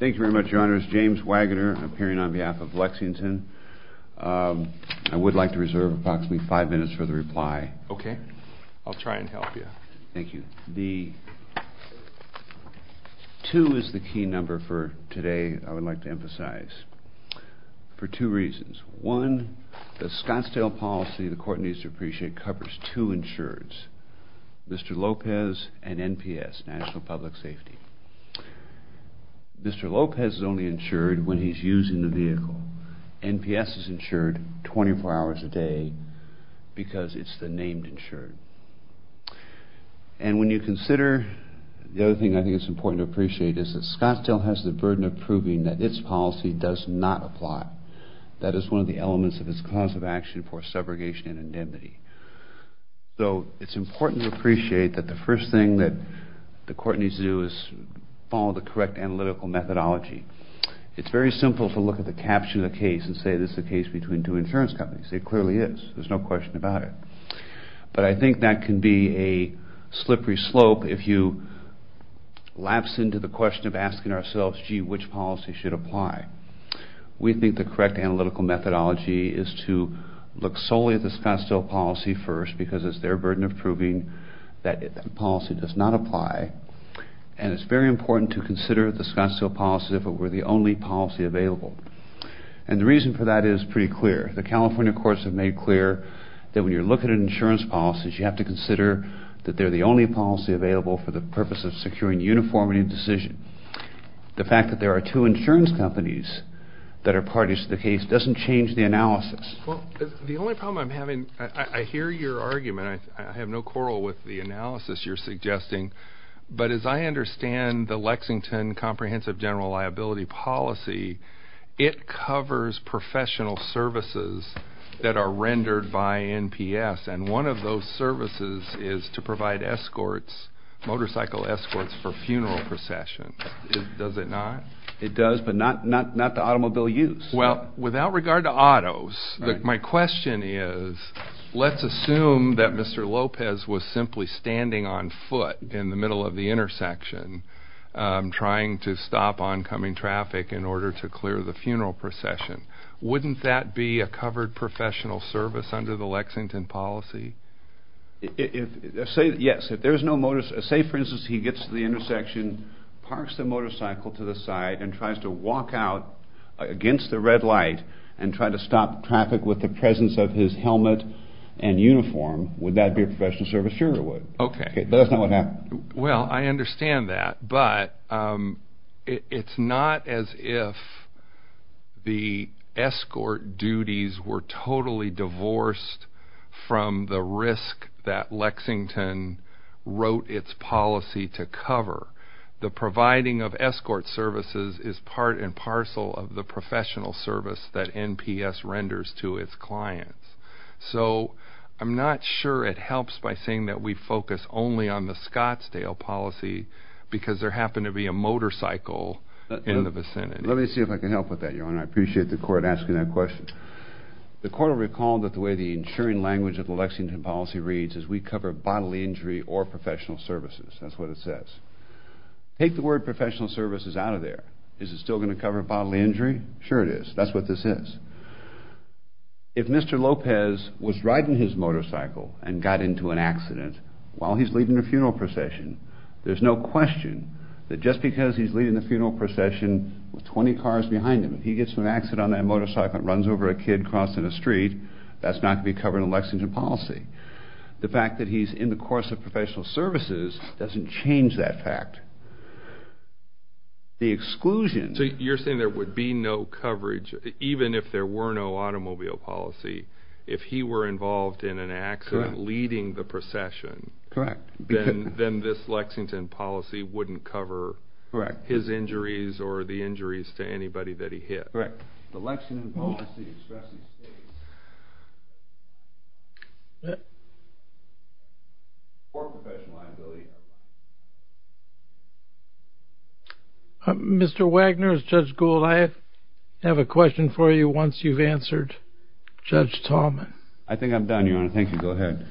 Thank you very much, Your Honors. James Wagoner, appearing on behalf of Lexington. I would like to reserve approximately five minutes for the reply. Okay. I'll try and help you. Thank you. The two is the key number for today, I would like to emphasize, for two reasons. One, the Scottsdale policy the Court needs to appreciate covers two insurers, Mr. Lopez and NPS, National Public Safety. Mr. Lopez is only insured when he's using the vehicle. NPS is insured 24 hours a day because it's the named insurer. And when you consider, the other thing I think it's important to appreciate is that Scottsdale has the burden of proving that its policy does not apply. That is one of the elements of its cause of the first thing that the Court needs to do is follow the correct analytical methodology. It's very simple to look at the caption of the case and say this is a case between two insurance companies. It clearly is. There's no question about it. But I think that can be a slippery slope if you lapse into the question of asking ourselves, gee, which policy should apply. We think the correct analytical methodology is to look solely at the Scottsdale policy first because it's their burden of proving that the policy does not apply. And it's very important to consider the Scottsdale policy if it were the only policy available. And the reason for that is pretty clear. The California courts have made clear that when you're looking at insurance policies, you have to consider that they're the only policy available for the purpose of securing uniformity of decision. The fact that there are two insurance companies that are parties to the case doesn't change the analysis. Well, the only problem I'm having, I hear your argument. I have no quarrel with the analysis you're suggesting. But as I understand the Lexington Comprehensive General Liability Policy, it covers professional services that are rendered by NPS. And one of those services is to provide escorts, motorcycle escorts, for funeral processions. Does it not? It does, but not to automobile use. Well, without regard to autos, my question is, let's assume that Mr. Lopez was simply standing on foot in the middle of the intersection trying to stop oncoming traffic in order to clear the funeral procession. Wouldn't that be a covered professional service under the Lexington policy? Yes. If there's no motor... Say, for instance, he gets to the intersection, parks the motorcycle to the side, and tries to walk out against the red light and try to stop traffic with the presence of his helmet and uniform, would that be a professional service? Sure it would. Okay. But that's not what happened. Well, I understand that. But it's not as if the escort duties were totally divorced from the risk that Lexington wrote its policy to cover. The providing of escort services is part and parcel of the professional service that NPS renders to its clients. So I'm not sure it helps by saying that we focus only on the Scottsdale policy, because there happened to be a motorcycle in the vicinity. Let me see if I can help with that, Your Honor. I appreciate the Court asking that question. The Court will recall that the way the insuring language of the Lexington policy reads is we cover bodily injury or professional services. That's what it says. Take the word professional services out of there. Is it still going to cover bodily injury? Sure it is. That's what this is. If Mr. Lopez was riding his motorcycle and got into an accident while he's leading the funeral procession, there's no question that just because he's leading the funeral procession with 20 cars behind him, if he gets in an accident on that motorcycle and runs over a kid crossing the street, that's not going to be covered in a Lexington policy. The fact that he's in the course of professional services doesn't change that fact. The exclusion... You're saying there would be no coverage, even if there were no automobile policy, if he were involved in an accident leading the procession, then this Lexington policy wouldn't cover his injuries or the injuries to anybody that he hit. Mr. Wagner, Judge Gould, I have a question for you once you've answered Judge Tallman. I think I'm done, Your Honor. Thank you. Go ahead.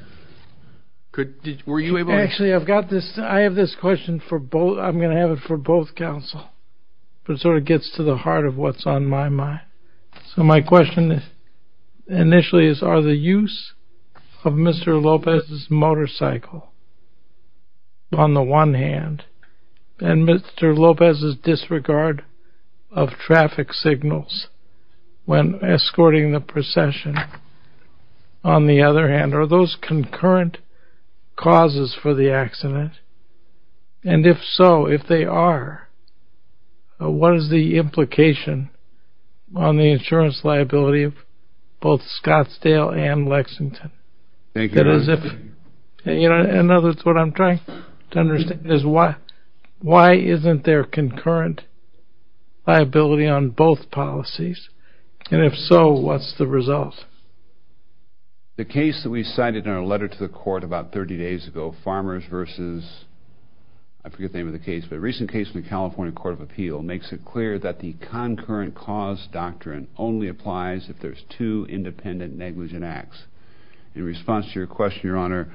Actually, I've got this... I have this question for both... I'm going to have it for both counsel, but it sort of gets to the heart of what's on my mind. So my question initially is are the use of Mr. Lopez's motorcycle, on the one hand, and Mr. Lopez's disregard of traffic signals when escorting the procession, on the other hand, are those concurrent causes for the accident? And if so, if they are, what is the implication on the insurance liability of both Scottsdale and Lexington? Thank you, Your Honor. In other words, what I'm trying to understand is why isn't there concurrent liability on both policies? And if so, what's the result? The case that we cited in our letter to the court about 30 days ago, Farmers v. I forget the name of the case, but a recent case in the California Court of Appeal, makes it clear that the concurrent cause doctrine only applies if there's two independent negligent acts. In response to your question, Your Honor,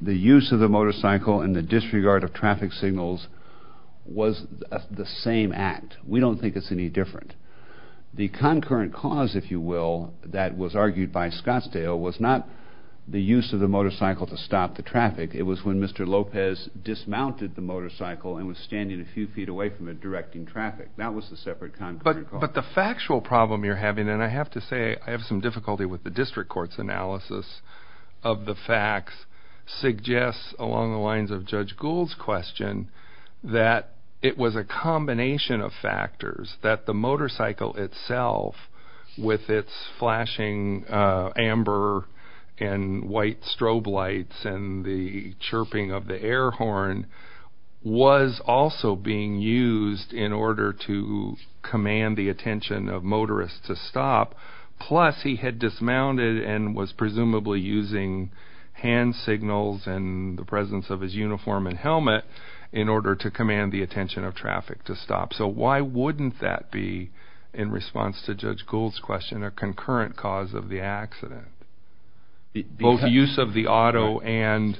the use of the motorcycle and the disregard of traffic signals was the same act. We don't think it's any different. The concurrent cause, if you will, that was argued by Scottsdale was not the use of the motorcycle to stop the traffic. It was when Mr. Lopez dismounted the motorcycle and was standing a few feet away from it directing traffic. That was the separate concurrent cause. But the factual problem you're having, and I have to say I have some difficulty with the district court's analysis of the facts, suggests along the lines of Judge Gould's question that it was a combination of factors that the motorcycle itself, with its flashing amber and white strobe lights and the chirping of the air horn, was also being used in order to command the attention of motorists to stop. Plus, he had dismounted and was presumably using hand signals and the presence of his uniform and helmet in order to command the attention of traffic to stop. So why wouldn't that be, in response to Judge Gould's question, a concurrent cause of the accident? Both the use of the auto and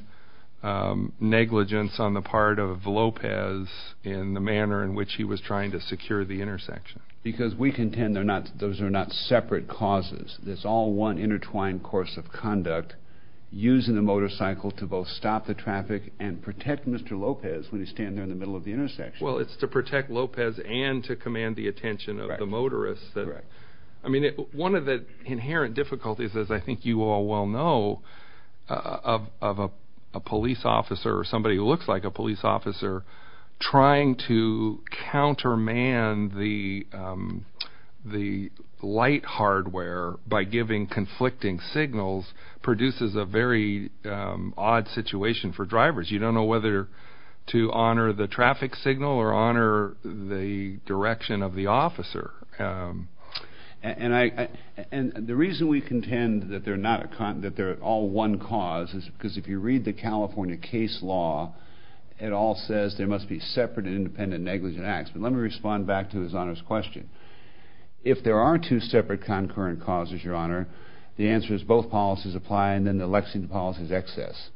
negligence on the part of Lopez in the manner in which he was trying to secure the intersection. Because we contend those are not separate causes. It's all one intertwined course of conduct, using the motorcycle to both stop the traffic and protect Mr. Lopez when he's standing in the middle of the intersection. Well, it's to protect Lopez and to command the attention of the motorists. I mean, one of the inherent difficulties, as I think you all well know, of a police officer or somebody who looks like a police officer, trying to counterman the light hardware by giving conflicting signals produces a very odd situation for drivers. You don't know whether to honor the traffic signal or honor the direction of the traffic. The reason that they're all one cause is because if you read the California case law, it all says there must be separate and independent negligent acts. But let me respond back to His Honor's question. If there are two separate concurrent causes, Your Honor, the answer is both policies apply and then the Lexington policy is excess.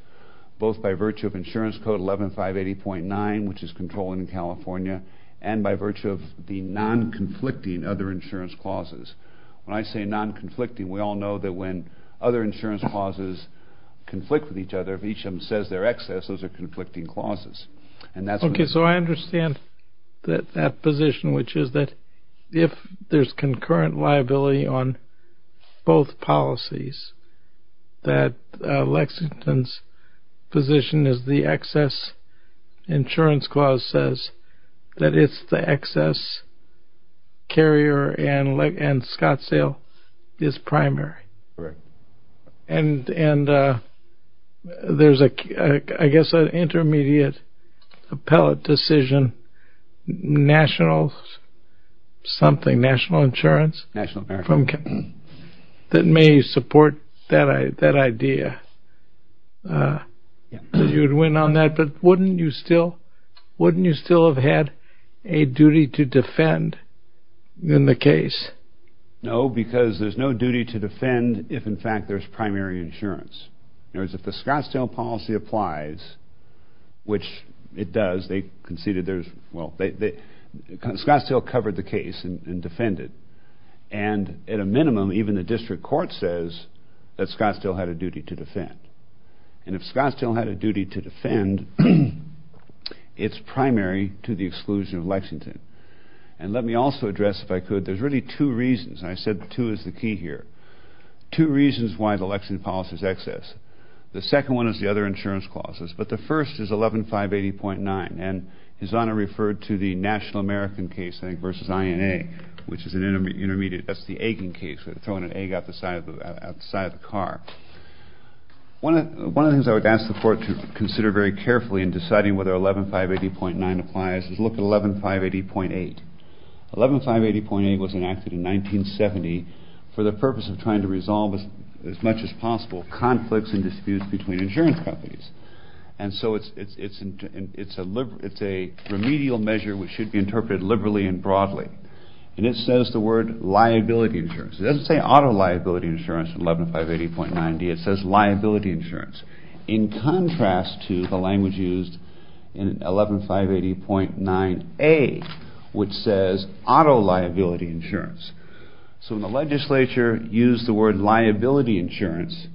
Both by virtue of Insurance Code 11-580.9, which is controlling in California, and by virtue of the non-conflicting other insurance clauses. When I say non-conflicting, we all know that when other insurance clauses conflict with each other, if each of them says they're excess, those are conflicting clauses. Okay, so I understand that position, which is that if there's concurrent liability on both policies, that Lexington's position is the excess insurance clause says that it's the excess carrier and Scottsdale is primary. Correct. And there's, I guess, an intermediate appellate decision, national something, national insurance? National insurance. That may support that idea that you'd win on that, but wouldn't you still have had a decision that would have a duty to defend in the case? No, because there's no duty to defend if, in fact, there's primary insurance. In other words, if the Scottsdale policy applies, which it does, they conceded there's, well, Scottsdale covered the case and defended. And at a minimum, even the district court says that Scottsdale had a duty to defend. And if Scottsdale had a duty to defend, Scottsdale would have defended. And let me also address, if I could, there's really two reasons, and I said two is the key here. Two reasons why the Lexington policy is excess. The second one is the other insurance clauses, but the first is 11-580.9, and His Honor referred to the National American case, I think, versus INA, which is an intermediate, that's the egging case, throwing an egg out the side of the car. One of the things I would ask the court to consider very carefully in deciding whether 11-580.9 applies is look at 11-580.8. 11-580.8 was enacted in 1970 for the purpose of trying to resolve as much as possible conflicts and disputes between insurance companies. And so it's a remedial measure which should be interpreted liberally and broadly. And it says the word liability insurance. It doesn't say auto liability insurance in 11-580.9-D, it says liability insurance. In contrast to the language used in 11-580.9-A, which says auto liability insurance. So when the legislature used the word liability insurance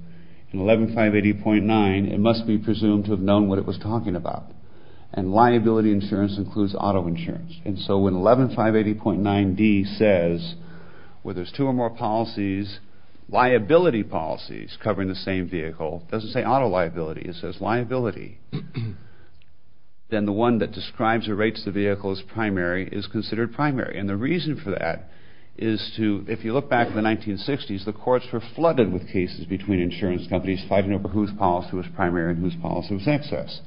in 11-580.9, it must be presumed to have known what it was talking about. And liability insurance includes auto insurance. And so when 11-580.9-D says, well there's two or more policies, liability policies, covering the same vehicle, it doesn't say auto liability, it says liability, then the one that describes or rates the vehicle as primary is considered primary. And the reason for that is to, if you look back to the 1960s, the courts were flooded with cases between insurance companies fighting over whose policy was primary and whose policy was excess.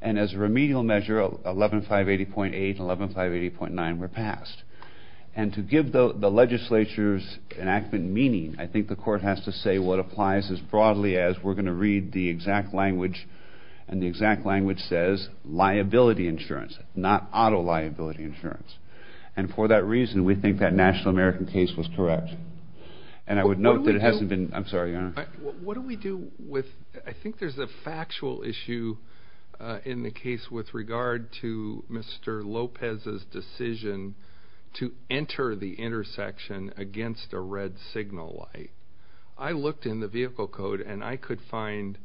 And as a remedial measure, 11-580.8 and 11-580.9 were passed. And to give the legislature's enactment meaning, I think the legislature should read the exact language, and the exact language says liability insurance, not auto liability insurance. And for that reason, we think that National American case was correct. And I would note that it hasn't been... I'm sorry, Your Honor. What do we do with... I think there's a factual issue in the case with regard to Mr. Lopez's decision to enter the intersection against a red signal light. I looked in the vehicle code, and I could find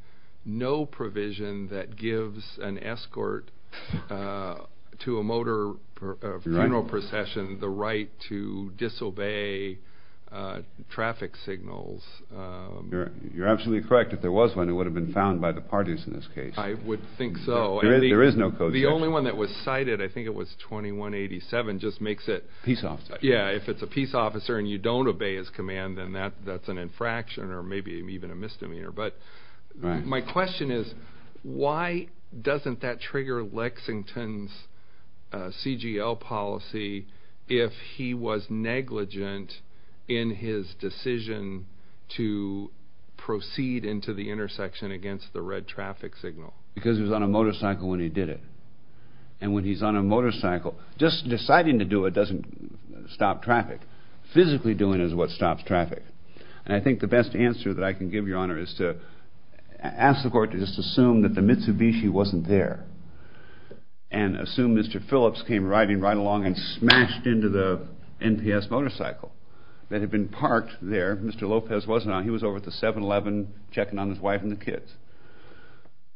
no provision that gives an escort to a motor funeral procession the right to disobey traffic signals. You're absolutely correct. If there was one, it would have been found by the parties in this case. I would think so. There is no code section. The only one that was cited, I think it was 21-87, just makes it... Peace officer. Yeah, if it's a peace officer and you don't obey his command, then that's an infraction or maybe even a misdemeanor. But my question is, why doesn't that trigger Lexington's CGL policy if he was negligent in his decision to proceed into the intersection against the red traffic signal? Because he was on a motorcycle when he did it. And when he's on a motorcycle, just deciding to do it doesn't stop traffic. Physically doing it is what stops traffic. And I think the best answer that I can give, Your Honor, is to ask the court to just assume that the Mitsubishi wasn't there, and assume Mr. Phillips came riding right along and smashed into the NPS motorcycle that had been parked there. Mr. Lopez wasn't on. He was over at the 7-Eleven checking on his wife and the kids.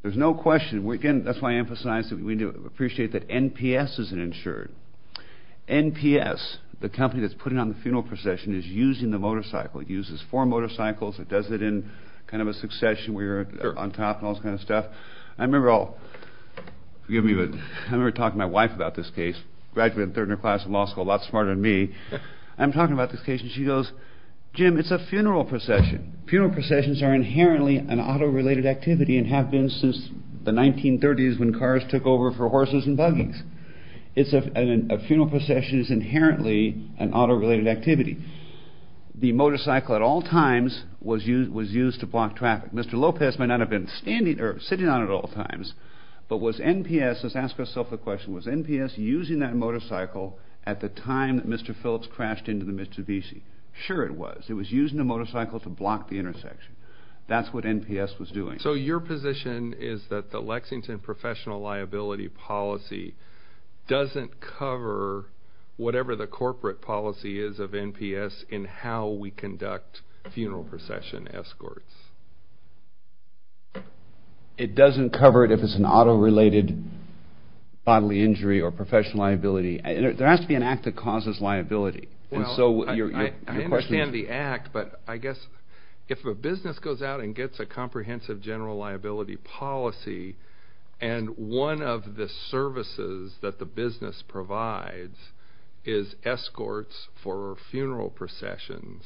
There's no question. Again, that's why I emphasize that we appreciate that NPS isn't insured. NPS, the company that's putting on the funeral procession, is using the motorcycle. It uses four motorcycles. It does it in kind of a succession where you're on top and all this kind of stuff. I remember I'll, forgive me, but I remember talking to my wife about this case, graduated in third year class in law school, a lot smarter than me. I'm talking about this case and she goes, Jim, it's a funeral procession. Funeral processions are inherently an auto-related activity and have been since the 1930s when cars took over for horses and buggies. A funeral procession is inherently an auto-related activity. The motorcycle at all times was used to block traffic. Mr. Lopez might not have been standing or sitting on it at all times, but was NPS, let's ask ourselves the question, was NPS using that motorcycle at the time that Mr. Phillips crashed into the Mitsubishi? Sure it was. It was using the motorcycle to block the intersection. That's what NPS was doing. So your position is that the Lexington professional liability policy doesn't cover whatever the conduct. Funeral procession escorts. It doesn't cover it if it's an auto-related bodily injury or professional liability. There has to be an act that causes liability. I understand the act, but I guess if a business goes out and gets a comprehensive general liability policy and one of the services that the business provides is escorts for funeral processions,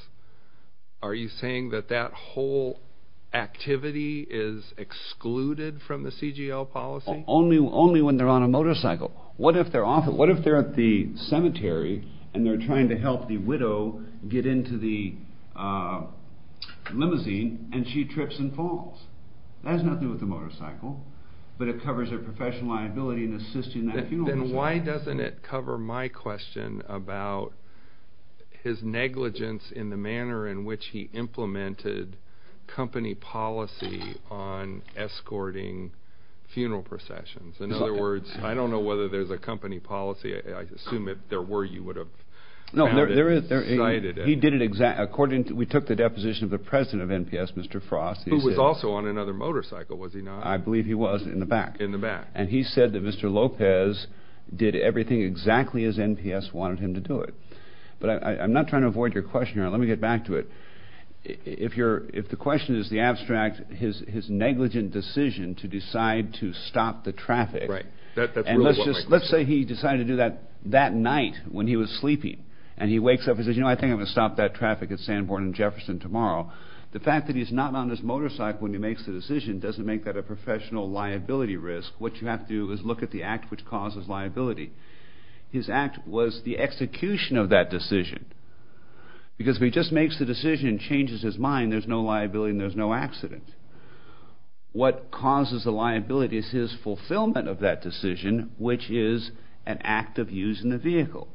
are you saying that that whole activity is excluded from the CGL policy? Only when they're on a motorcycle. What if they're at the cemetery and they're trying to help the widow get into the limousine and she trips and falls? That has nothing to do with the motorcycle, but it covers her professional liability in assisting that funeral procession. Then why doesn't it cover my question about his negligence in the manner in which he implemented company policy on escorting funeral processions? In other words, I don't know whether there's a company policy. I assume if there were, you would have cited it. He did it exactly according to, we took the deposition of the president of NPS, Mr. Frost. Who was also on another motorcycle, was he not? I believe he was in the back. He said that Mr. Lopez did everything exactly as NPS wanted him to do it. I'm not trying to avoid your question. Let me get back to it. If the question is the abstract, his negligent decision to decide to stop the traffic. Let's say he decided to do that that night when he was sleeping and he wakes up and says, I think I'm going to stop that traffic at Sanborn and Jefferson tomorrow. The fact that he's not on this motorcycle when he makes the decision doesn't make that a professional liability risk. What you have to do is look at the act which causes liability. His act was the execution of that decision. Because if he just makes the decision and changes his mind, there's no liability and there's no accident. What causes the liability is his fulfillment of that decision, which is an act of using the vehicle.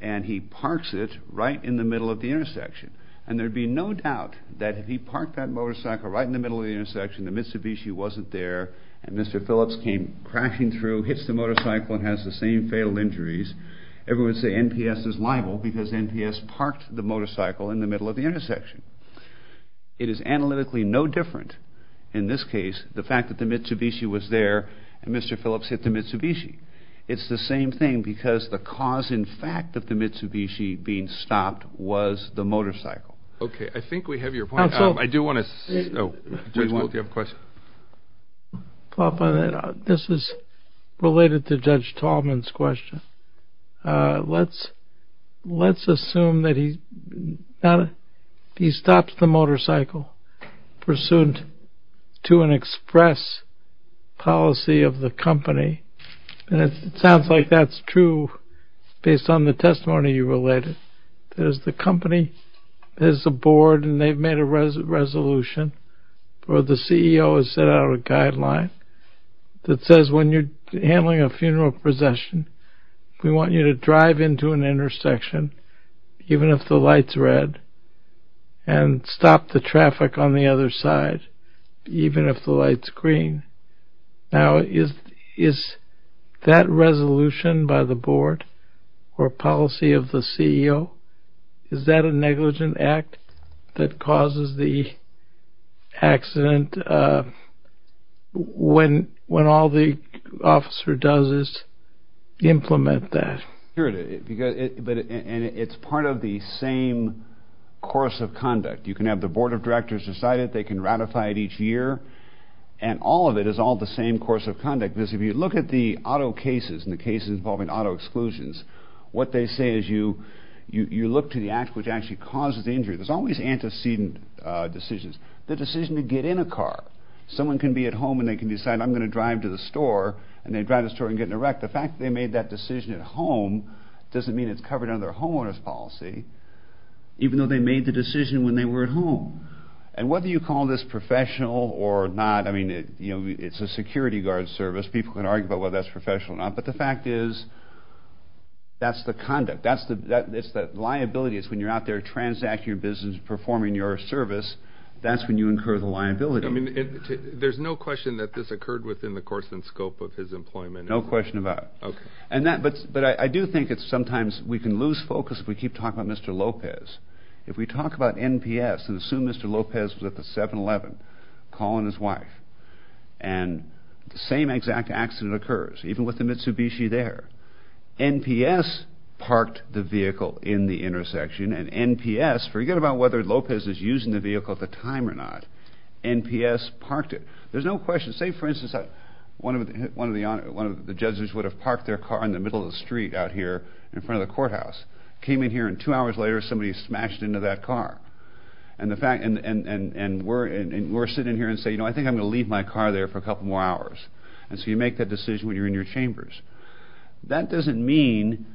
And he parks it right in the middle of the intersection. And there'd be no doubt that if he parked that motorcycle right in the middle of the intersection, the Mitsubishi wasn't there, and Mr. Phillips came crashing through, hits the motorcycle and has the same fatal injuries, everyone would say NPS is liable because NPS parked the motorcycle in the middle of the intersection. It is analytically no different in this case, the fact that the Mitsubishi was there and Mr. Phillips hit the Mitsubishi. It's the same thing because the cause, in fact, of the Mitsubishi being stopped was the motorcycle. Okay, I think we have your point. I do want to, oh, Judge Wolk, do you have a question? This is related to Judge Tallman's question. Let's assume that he stopped the motorcycle pursuant to an express policy of the company. And it sounds like that's true based on the testimony you related. There's the company, there's the board, and they've made a resolution where the CEO has set out a guideline that says when you're handling a funeral procession, we want you to drive into an intersection, even if the light's red, and stop the traffic on the other side, even if the light's green. Now, is that resolution by the board or policy of the CEO, is that a negligent act that causes the accident when all the officer does is implement that? It's part of the same course of conduct. You can have the board of directors decide it, they can ratify it each year, and all of it is all the same course of conduct. If you look at the auto cases and the cases involving auto exclusions, what they say is you look to the act which actually causes the injury. There's always antecedent decisions. The decision to get in a car. Someone can be at home and they can decide, I'm going to drive to the car. That decision at home doesn't mean it's covered under their homeowner's policy, even though they made the decision when they were at home. Whether you call this professional or not, it's a security guard service, people can argue about whether that's professional or not, but the fact is, that's the conduct. It's the liability. It's when you're out there transacting your business, performing your service, that's when you incur the liability. There's no question that this occurred within the course and scope of his employment? No question about it. But I do think that sometimes we can lose focus if we keep talking about Mr. Lopez. If we talk about NPS and assume Mr. Lopez was at the 7-Eleven, calling his wife, and the same exact accident occurs, even with the Mitsubishi there, NPS parked the vehicle in the intersection, and NPS, forget about whether Lopez was using the vehicle at the time or not, NPS parked it. There's no question. Say for instance, one of the judges would have parked their car in the middle of the street out here in front of the courthouse, came in here and two hours later somebody smashed into that car, and we're sitting here and say, you know, I think I'm going to leave my car there for a couple more hours. And so you make that decision when you're in your chambers. That doesn't mean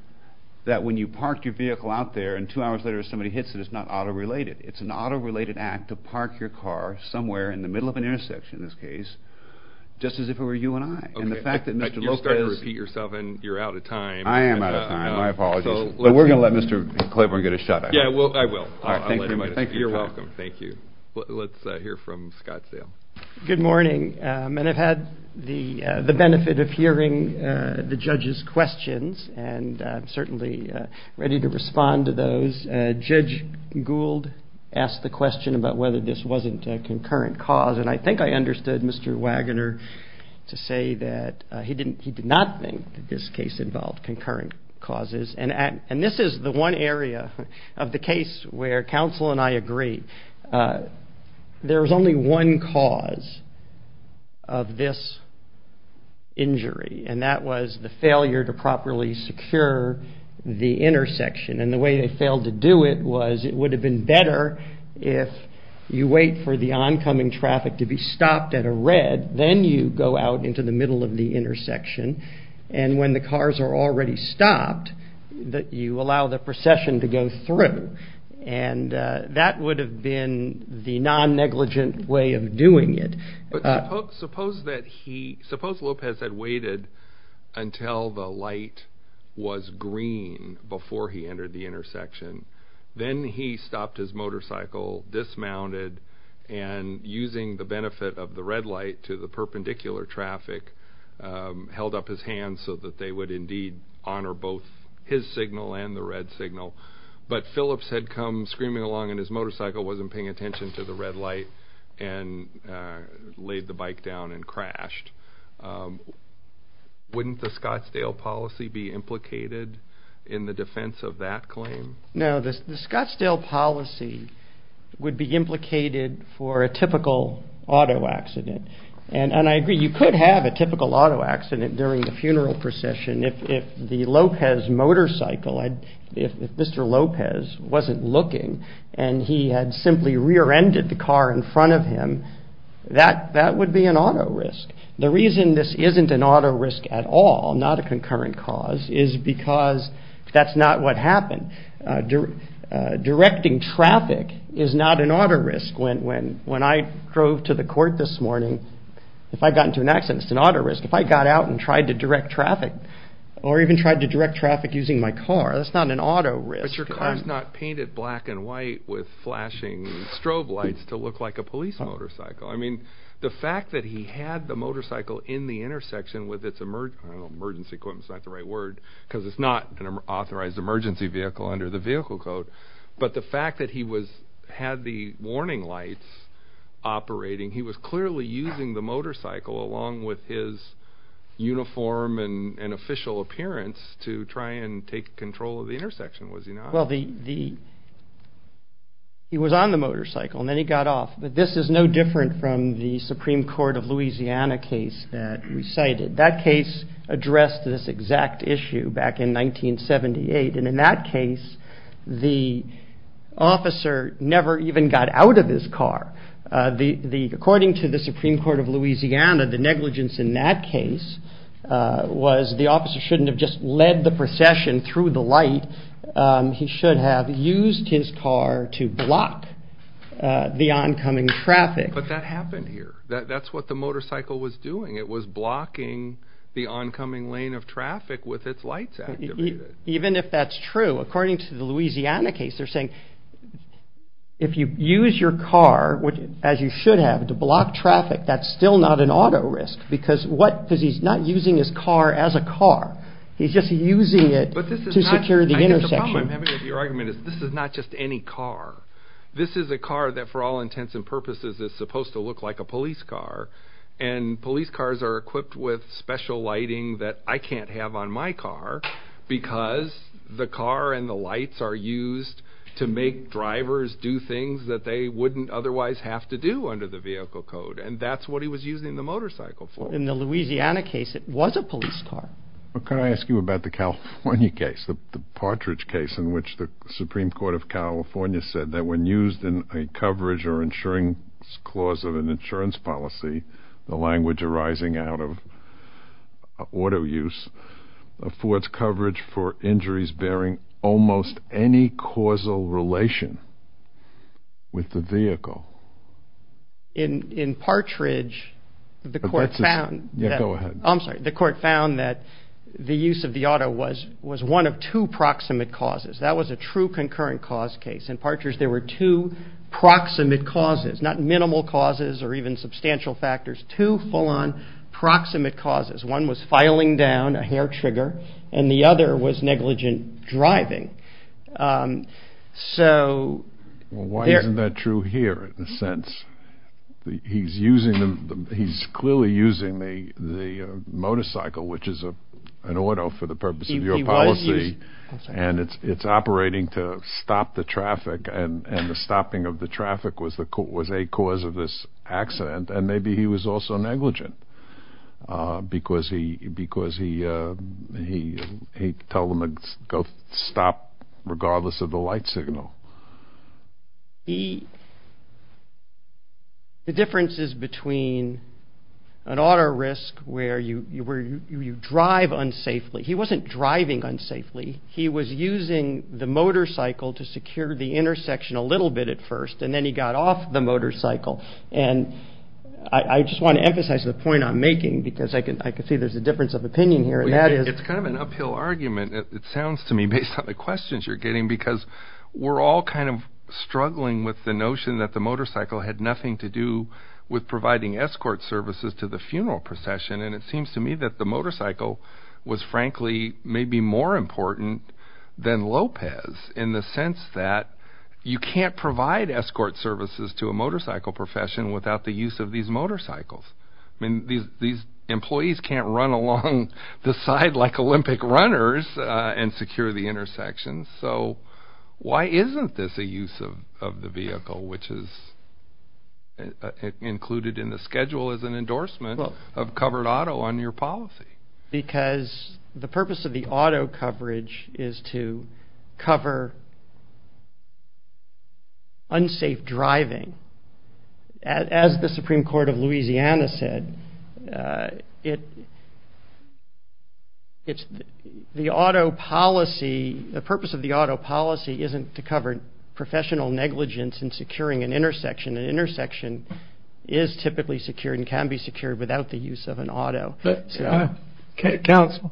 that when you park your vehicle out there and two hours later somebody hits it, it's not auto-related. It's an auto-related act to park your car somewhere in the middle of the street. You're starting to repeat yourself, and you're out of time. I am out of time. My apologies. But we're going to let Mr. Claiborne get a shot at it. Yeah, I will. I'll let him. You're welcome. Thank you. Let's hear from Scottsdale. Good morning. And I've had the benefit of hearing the judges' questions, and I'm certainly ready to respond to those. Judge Gould asked the question about whether this did not think that this case involved concurrent causes. And this is the one area of the case where counsel and I agree. There was only one cause of this injury, and that was the failure to properly secure the intersection. And the way they failed to do it was it would have been better if you wait for the oncoming traffic to be stopped at a red, then you go out into the middle of the intersection. And when the cars are already stopped, you allow the procession to go through. And that would have been the non-negligent way of doing it. But suppose Lopez had waited until the light was green before he entered the intersection. Then he stopped his motorcycle, dismounted, and using the benefit of the red light to the perpendicular traffic, held up his hand so that they would indeed honor both his signal and the red signal. But Phillips had come screaming along, and his motorcycle wasn't paying attention to the red light, and laid the bike down and crashed. Wouldn't the Scottsdale policy be implicated in the defense of that claim? No, the Scottsdale policy would be implicated for a typical auto accident. And I agree, you could have a typical auto accident during the funeral procession if the Lopez motorcycle, if Mr. Lopez wasn't looking and he had simply rear-ended the car in front of him, that would be an auto risk. The reason this isn't an auto risk at all, not a directing traffic is not an auto risk. When I drove to the court this morning, if I got into an accident, it's an auto risk. If I got out and tried to direct traffic, or even tried to direct traffic using my car, that's not an auto risk. But your car's not painted black and white with flashing strobe lights to look like a police motorcycle. I mean, the fact that he had the motorcycle in the intersection with emergency equipment is not the right word, because it's not an authorized emergency vehicle under the vehicle code. But the fact that he had the warning lights operating, he was clearly using the motorcycle along with his uniform and official appearance to try and take control of the intersection, was he not? Well, he was on the motorcycle, and then he got off. But this is no different from the exact issue back in 1978. And in that case, the officer never even got out of his car. According to the Supreme Court of Louisiana, the negligence in that case was the officer shouldn't have just led the procession through the light. He should have used his car to block the oncoming traffic. But that happened here. That's what the motorcycle was doing. It was blocking the oncoming lane of traffic with its lights activated. Even if that's true, according to the Louisiana case, they're saying if you use your car, as you should have, to block traffic, that's still not an auto risk, because he's not using his car as a car. He's just using it to secure the intersection. I think the problem I'm having with your argument is this is not just any car. This is a car that, for all intents and purposes, is supposed to look like a police car. And police cars are equipped with special lighting that I can't have on my car, because the car and the lights are used to make drivers do things that they wouldn't otherwise have to do under the vehicle code. And that's what he was using the motorcycle for. In the Louisiana case, it was a police car. Can I ask you about the California case, the Partridge case, in which the Supreme Court of California said that when used in a coverage or insurance clause of an insurance policy, the language arising out of auto use affords coverage for injuries bearing almost any causal relation with the vehicle? In Partridge, the court found... Go ahead. I'm sorry. The court found that the use of the auto was one of two proximate causes. That was a true concurrent cause case. In Partridge, there were two proximate causes, not minimal causes or even substantial factors, two full-on proximate causes. One was filing down a hair trigger, and the other was negligent driving. So... Well, why isn't that true here, in a sense? He's clearly using the motorcycle, which is an auto, for the purpose of your policy. He was using... And it's operating to stop the traffic, and the stopping of the traffic was a cause of this accident. And maybe he was also negligent, because he told him to go stop, regardless of the light signal. He... The difference is between an auto risk, where you drive unsafely. He wasn't driving unsafely. He was using the motorcycle to secure the intersection a little bit at first, and then he got off the motorcycle. And I just want to emphasize the point I'm making, because I can see there's a difference of opinion here, and that is... It's kind of an uphill argument, it sounds to me, based on the questions you're getting, because we're all kind of struggling with the notion that the motorcycle had nothing to do with providing escort services to the funeral procession. And it seems to me that the motorcycle was, frankly, maybe more important than Lopez, in the sense that you can't provide escort services to a motorcycle profession without the use of these motorcycles. I mean, these employees can't run along the side like Olympic runners and secure the intersection. So why isn't this a use of the vehicle, which is included in the schedule as an endorsement of covered auto on your policy? Because the purpose of the auto coverage is to cover unsafe driving. As the Supreme Court of Louisiana said, the auto policy, the purpose of the auto policy isn't to cover professional negligence in securing an intersection. An intersection is typically secured and can be secured without the use of an auto. Counsel,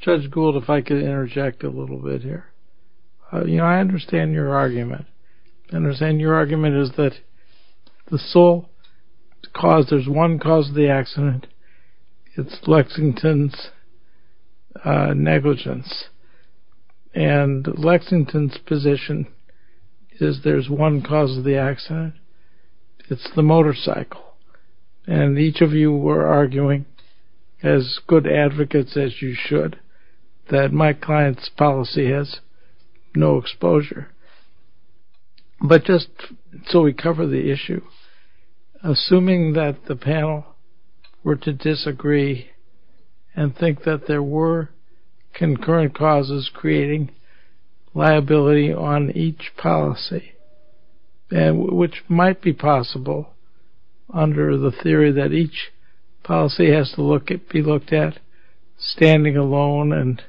Judge Gould, if I could interject a little bit here. You know, I understand your argument. I understand your argument is that the sole cause, there's one cause of the accident, it's Lexington's negligence. And Lexington's position is there's one cause of the accident. It's the motorcycle. And each of you were arguing, as good advocates as you should, that my client's policy has no exposure. But just so we cover the issue, assuming that the panel were to disagree and think that there were concurrent causes creating liability on each policy, which might be possible under the theory that each policy has to be looked at standing alone and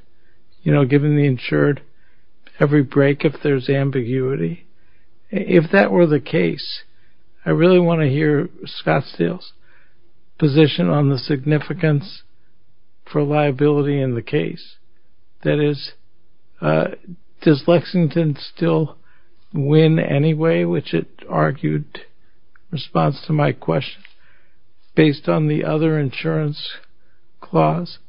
giving the insured every break if there's ambiguity. If that were the case, I really want to hear Scott Steele's position on the significance for liability in the case. That is, does Lexington still win anyway, which it argued in response to my question, based on the other insurance clause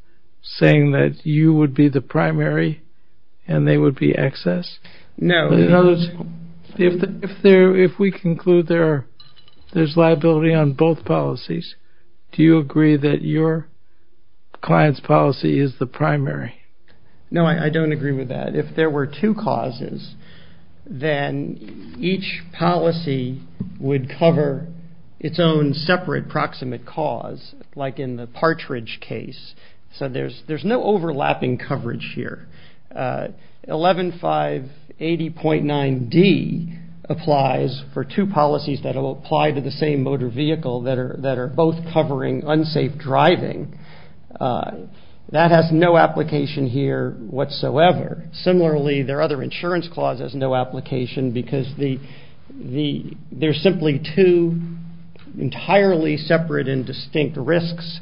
saying that you would be the primary and they would be excess? No. If we conclude there's liability on both policies, do you agree that your client's policy is the primary? No, I don't agree with that. If there were two causes, then each policy would cover its own separate proximate cause, like in the Partridge case. So there's no overlapping coverage here. 11.580.9d applies for two policies that will apply to the same motor vehicle that are both covering unsafe driving. That has no application here whatsoever. Similarly, their other insurance clause has no application because they're simply two entirely separate and distinct risks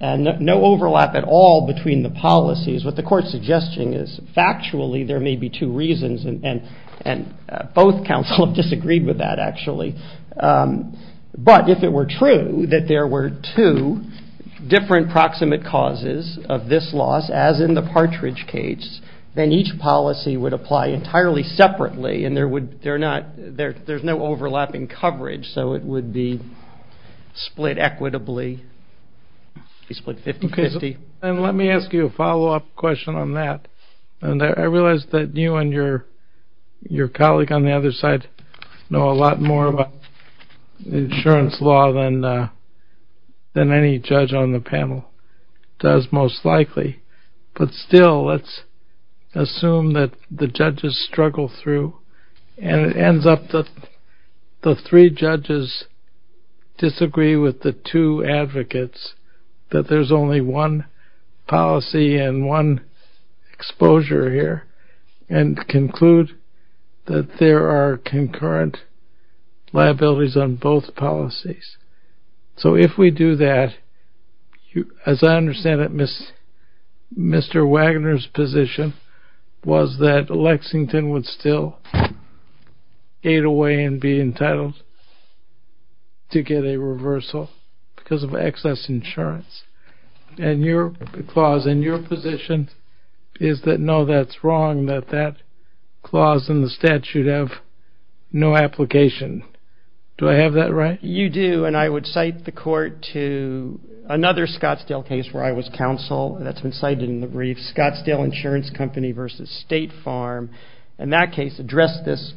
and no overlap at all between the policies. What the court's suggesting is factually there may be two reasons, and both counsel have disagreed with that, actually. But if it were true that there were two different proximate causes of this loss, as in the Partridge case, then each policy would apply entirely separately and there's no overlapping coverage, so it would be split equitably, split 50-50. Let me ask you a follow-up question on that. I realize that you and your colleague on the other side know a lot more about insurance law than any judge on the panel does, most likely. But still, let's assume that the judges struggle through, and it ends up that the three judges disagree with the two advocates, that there's only one policy and one exposure here, and conclude that there are concurrent liabilities on both policies. So if we do that, as I understand it, Mr. Wagner's position was that Lexington would still aid away and be entitled to get a reversal because of excess insurance. And your clause and your position is that no, that's wrong, that that clause in the statute have no application. Do I have that right? You do, and I would cite the court to another Scottsdale case where I was counsel, that's been cited in the brief, Scottsdale Insurance Company v. State Farm. And that case addressed this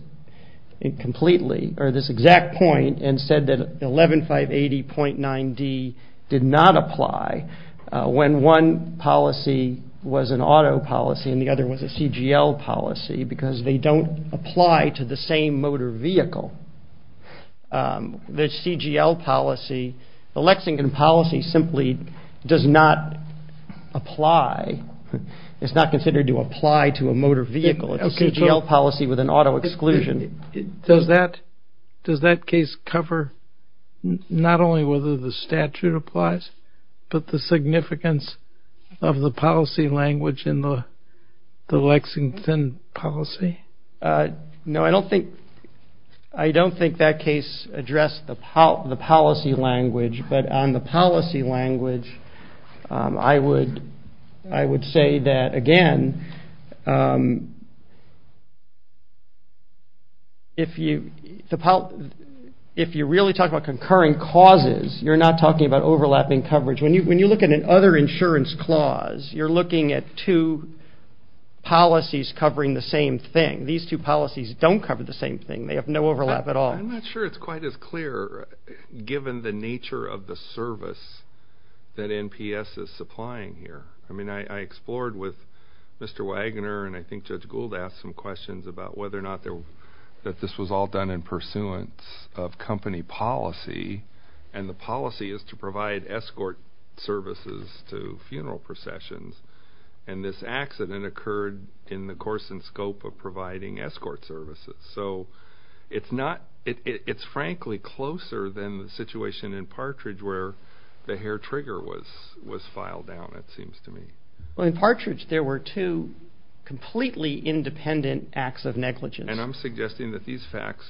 completely, or this exact point, and said that 11580.9d did not apply when one policy was an auto policy and the other was a CGL policy because they don't apply to the same motor vehicle. The CGL policy, the Lexington policy simply does not apply, it's not considered to apply to a motor vehicle. It's a CGL policy with an auto exclusion. Does that case cover not only whether the statute applies, but the significance of the policy language in the Lexington policy? No, I don't think that case addressed the policy language, but on the policy language I would say that, again, if you really talk about concurring causes, you're not talking about overlapping coverage. When you look at an other insurance clause, you're looking at two policies covering the same thing. These two policies don't cover the same thing. They have no overlap at all. I'm not sure it's quite as clear, given the nature of the service that NPS is supplying here. I mean, I explored with Mr. Wagner and I think Judge Gould asked some questions about whether or not this was all done in pursuance of company policy, and the policy is to provide escort services to funeral processions, and this accident occurred in the course and scope of providing escort services. So it's frankly closer than the situation in Partridge where the hair trigger was filed down, it seems to me. Well, in Partridge there were two completely independent acts of negligence. And I'm suggesting that these facts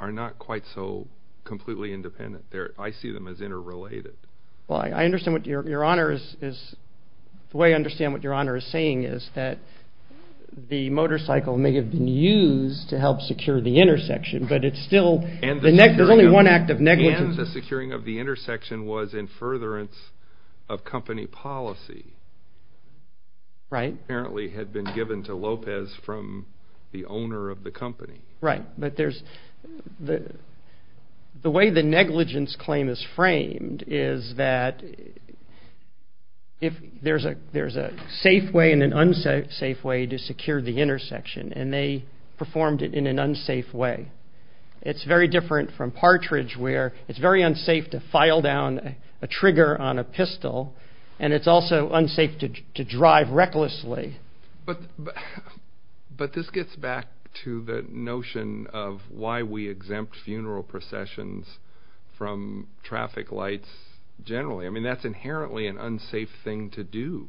are not quite so completely independent. I see them as interrelated. Well, I understand what your Honor is saying is that the motorcycle, may have been used to help secure the intersection, but it's still, there's only one act of negligence. And the securing of the intersection was in furtherance of company policy. Right. Apparently had been given to Lopez from the owner of the company. Right, but there's, the way the negligence claim is framed is that there's a safe way and an unsafe way to secure the intersection, and they performed it in an unsafe way. It's very different from Partridge where it's very unsafe to file down a trigger on a pistol, and it's also unsafe to drive recklessly. But this gets back to the notion of why we exempt funeral processions from traffic lights generally. I mean, that's inherently an unsafe thing to do.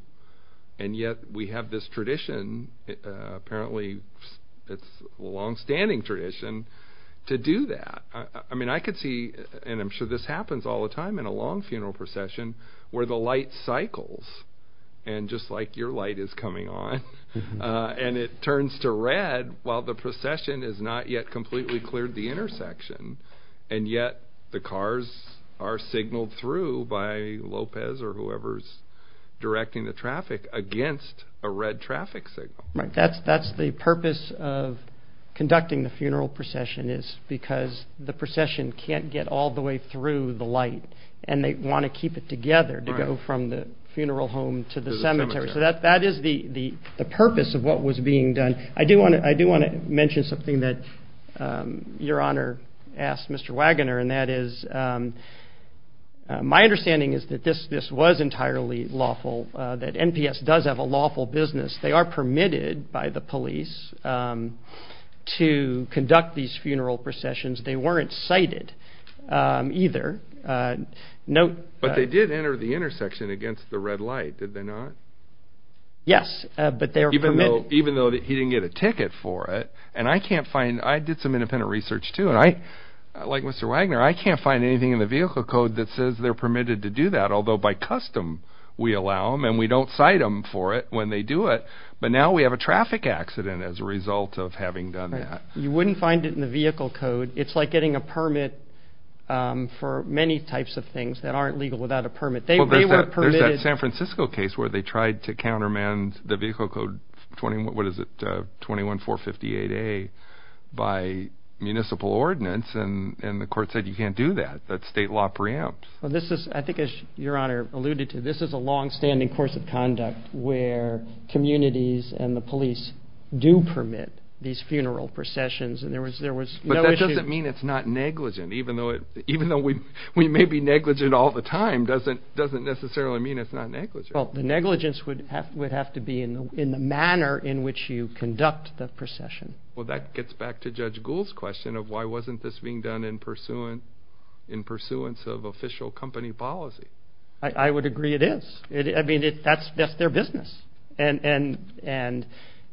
And yet we have this tradition, apparently it's a longstanding tradition, to do that. I mean, I could see, and I'm sure this happens all the time in a long funeral procession, where the light cycles, and just like your light is coming on, and it turns to red while the procession has not yet completely cleared the intersection. And yet the cars are signaled through by Lopez or whoever's directing the traffic against a red traffic signal. Right, that's the purpose of conducting the funeral procession, is because the procession can't get all the way through the light, and they want to keep it together to go from the funeral home to the cemetery. So that is the purpose of what was being done. I do want to mention something that Your Honor asked Mr. Wagoner, and that is my understanding is that this was entirely lawful, that NPS does have a lawful business. They are permitted by the police to conduct these funeral processions. They weren't cited either. But they did enter the intersection against the red light, did they not? Yes, but they were permitted. Even though he didn't get a ticket for it, and I did some independent research too, and like Mr. Wagoner, I can't find anything in the vehicle code that says they're permitted to do that, although by custom we allow them, and we don't cite them for it when they do it. But now we have a traffic accident as a result of having done that. You wouldn't find it in the vehicle code. It's like getting a permit for many types of things that aren't legal without a permit. Well, there's that San Francisco case where they tried to countermand the vehicle code 21458A by municipal ordinance, and the court said you can't do that. That's state law preempt. I think as Your Honor alluded to, this is a longstanding course of conduct where communities and the police do permit these funeral processions. But that doesn't mean it's not negligent. Even though we may be negligent all the time, it doesn't necessarily mean it's not negligent. Well, the negligence would have to be in the manner in which you conduct the procession. Well, that gets back to Judge Gould's question of why wasn't this being done in pursuance of official company policy. I would agree it is. I mean, that's their business, and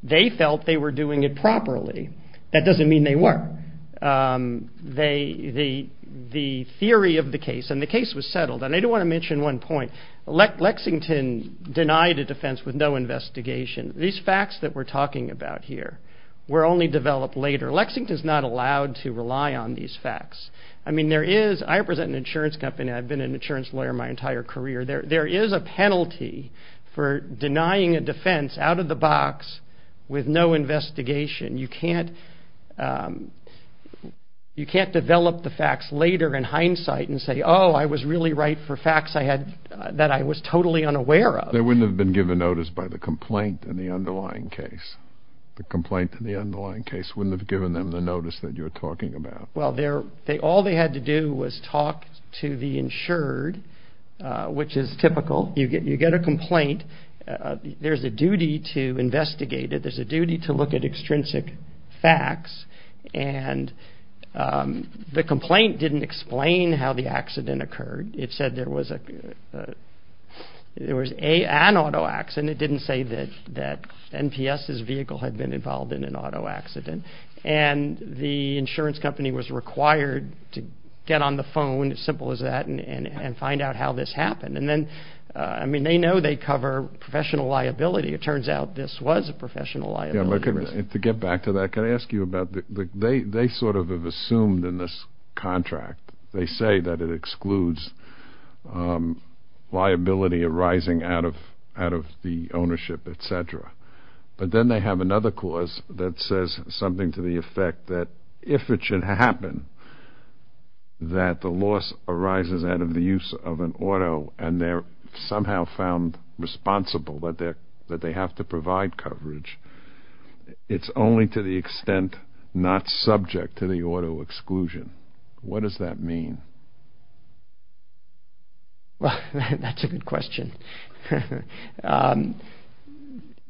they felt they were doing it properly. That doesn't mean they weren't. The theory of the case, and the case was settled, and I do want to mention one point. Lexington denied a defense with no investigation. These facts that we're talking about here were only developed later. Lexington's not allowed to rely on these facts. I mean, there is. I represent an insurance company. I've been an insurance lawyer my entire career. There is a penalty for denying a defense out of the box with no investigation. You can't develop the facts later in hindsight and say, oh, I was really right for facts that I was totally unaware of. They wouldn't have been given notice by the complaint in the underlying case. The complaint in the underlying case wouldn't have given them the notice that you're talking about. Well, all they had to do was talk to the insured, which is typical. You get a complaint. There's a duty to investigate it. There's a duty to look at extrinsic facts. And the complaint didn't explain how the accident occurred. It said there was an auto accident. It didn't say that NPS's vehicle had been involved in an auto accident. And the insurance company was required to get on the phone, as simple as that, and find out how this happened. And then, I mean, they know they cover professional liability. It turns out this was a professional liability. Yeah, but to get back to that, can I ask you about, they sort of have assumed in this contract, they say that it excludes liability arising out of the ownership, et cetera. But then they have another clause that says something to the effect that, if it should happen, that the loss arises out of the use of an auto, and they're somehow found responsible that they have to provide coverage. It's only to the extent not subject to the auto exclusion. What does that mean? Well, that's a good question. What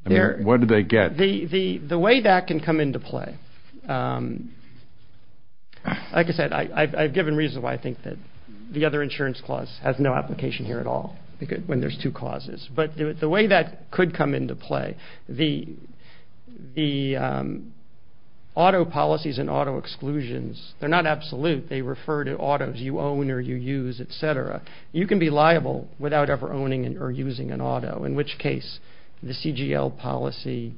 do they get? The way that can come into play, like I said, I've given reasons why I think that the other insurance clause has no application here at all, when there's two clauses. But the way that could come into play, the auto policies and auto exclusions, they're not absolute. They refer to autos you own or you use, et cetera. You can be liable without ever owning or using an auto, in which case the CGL policy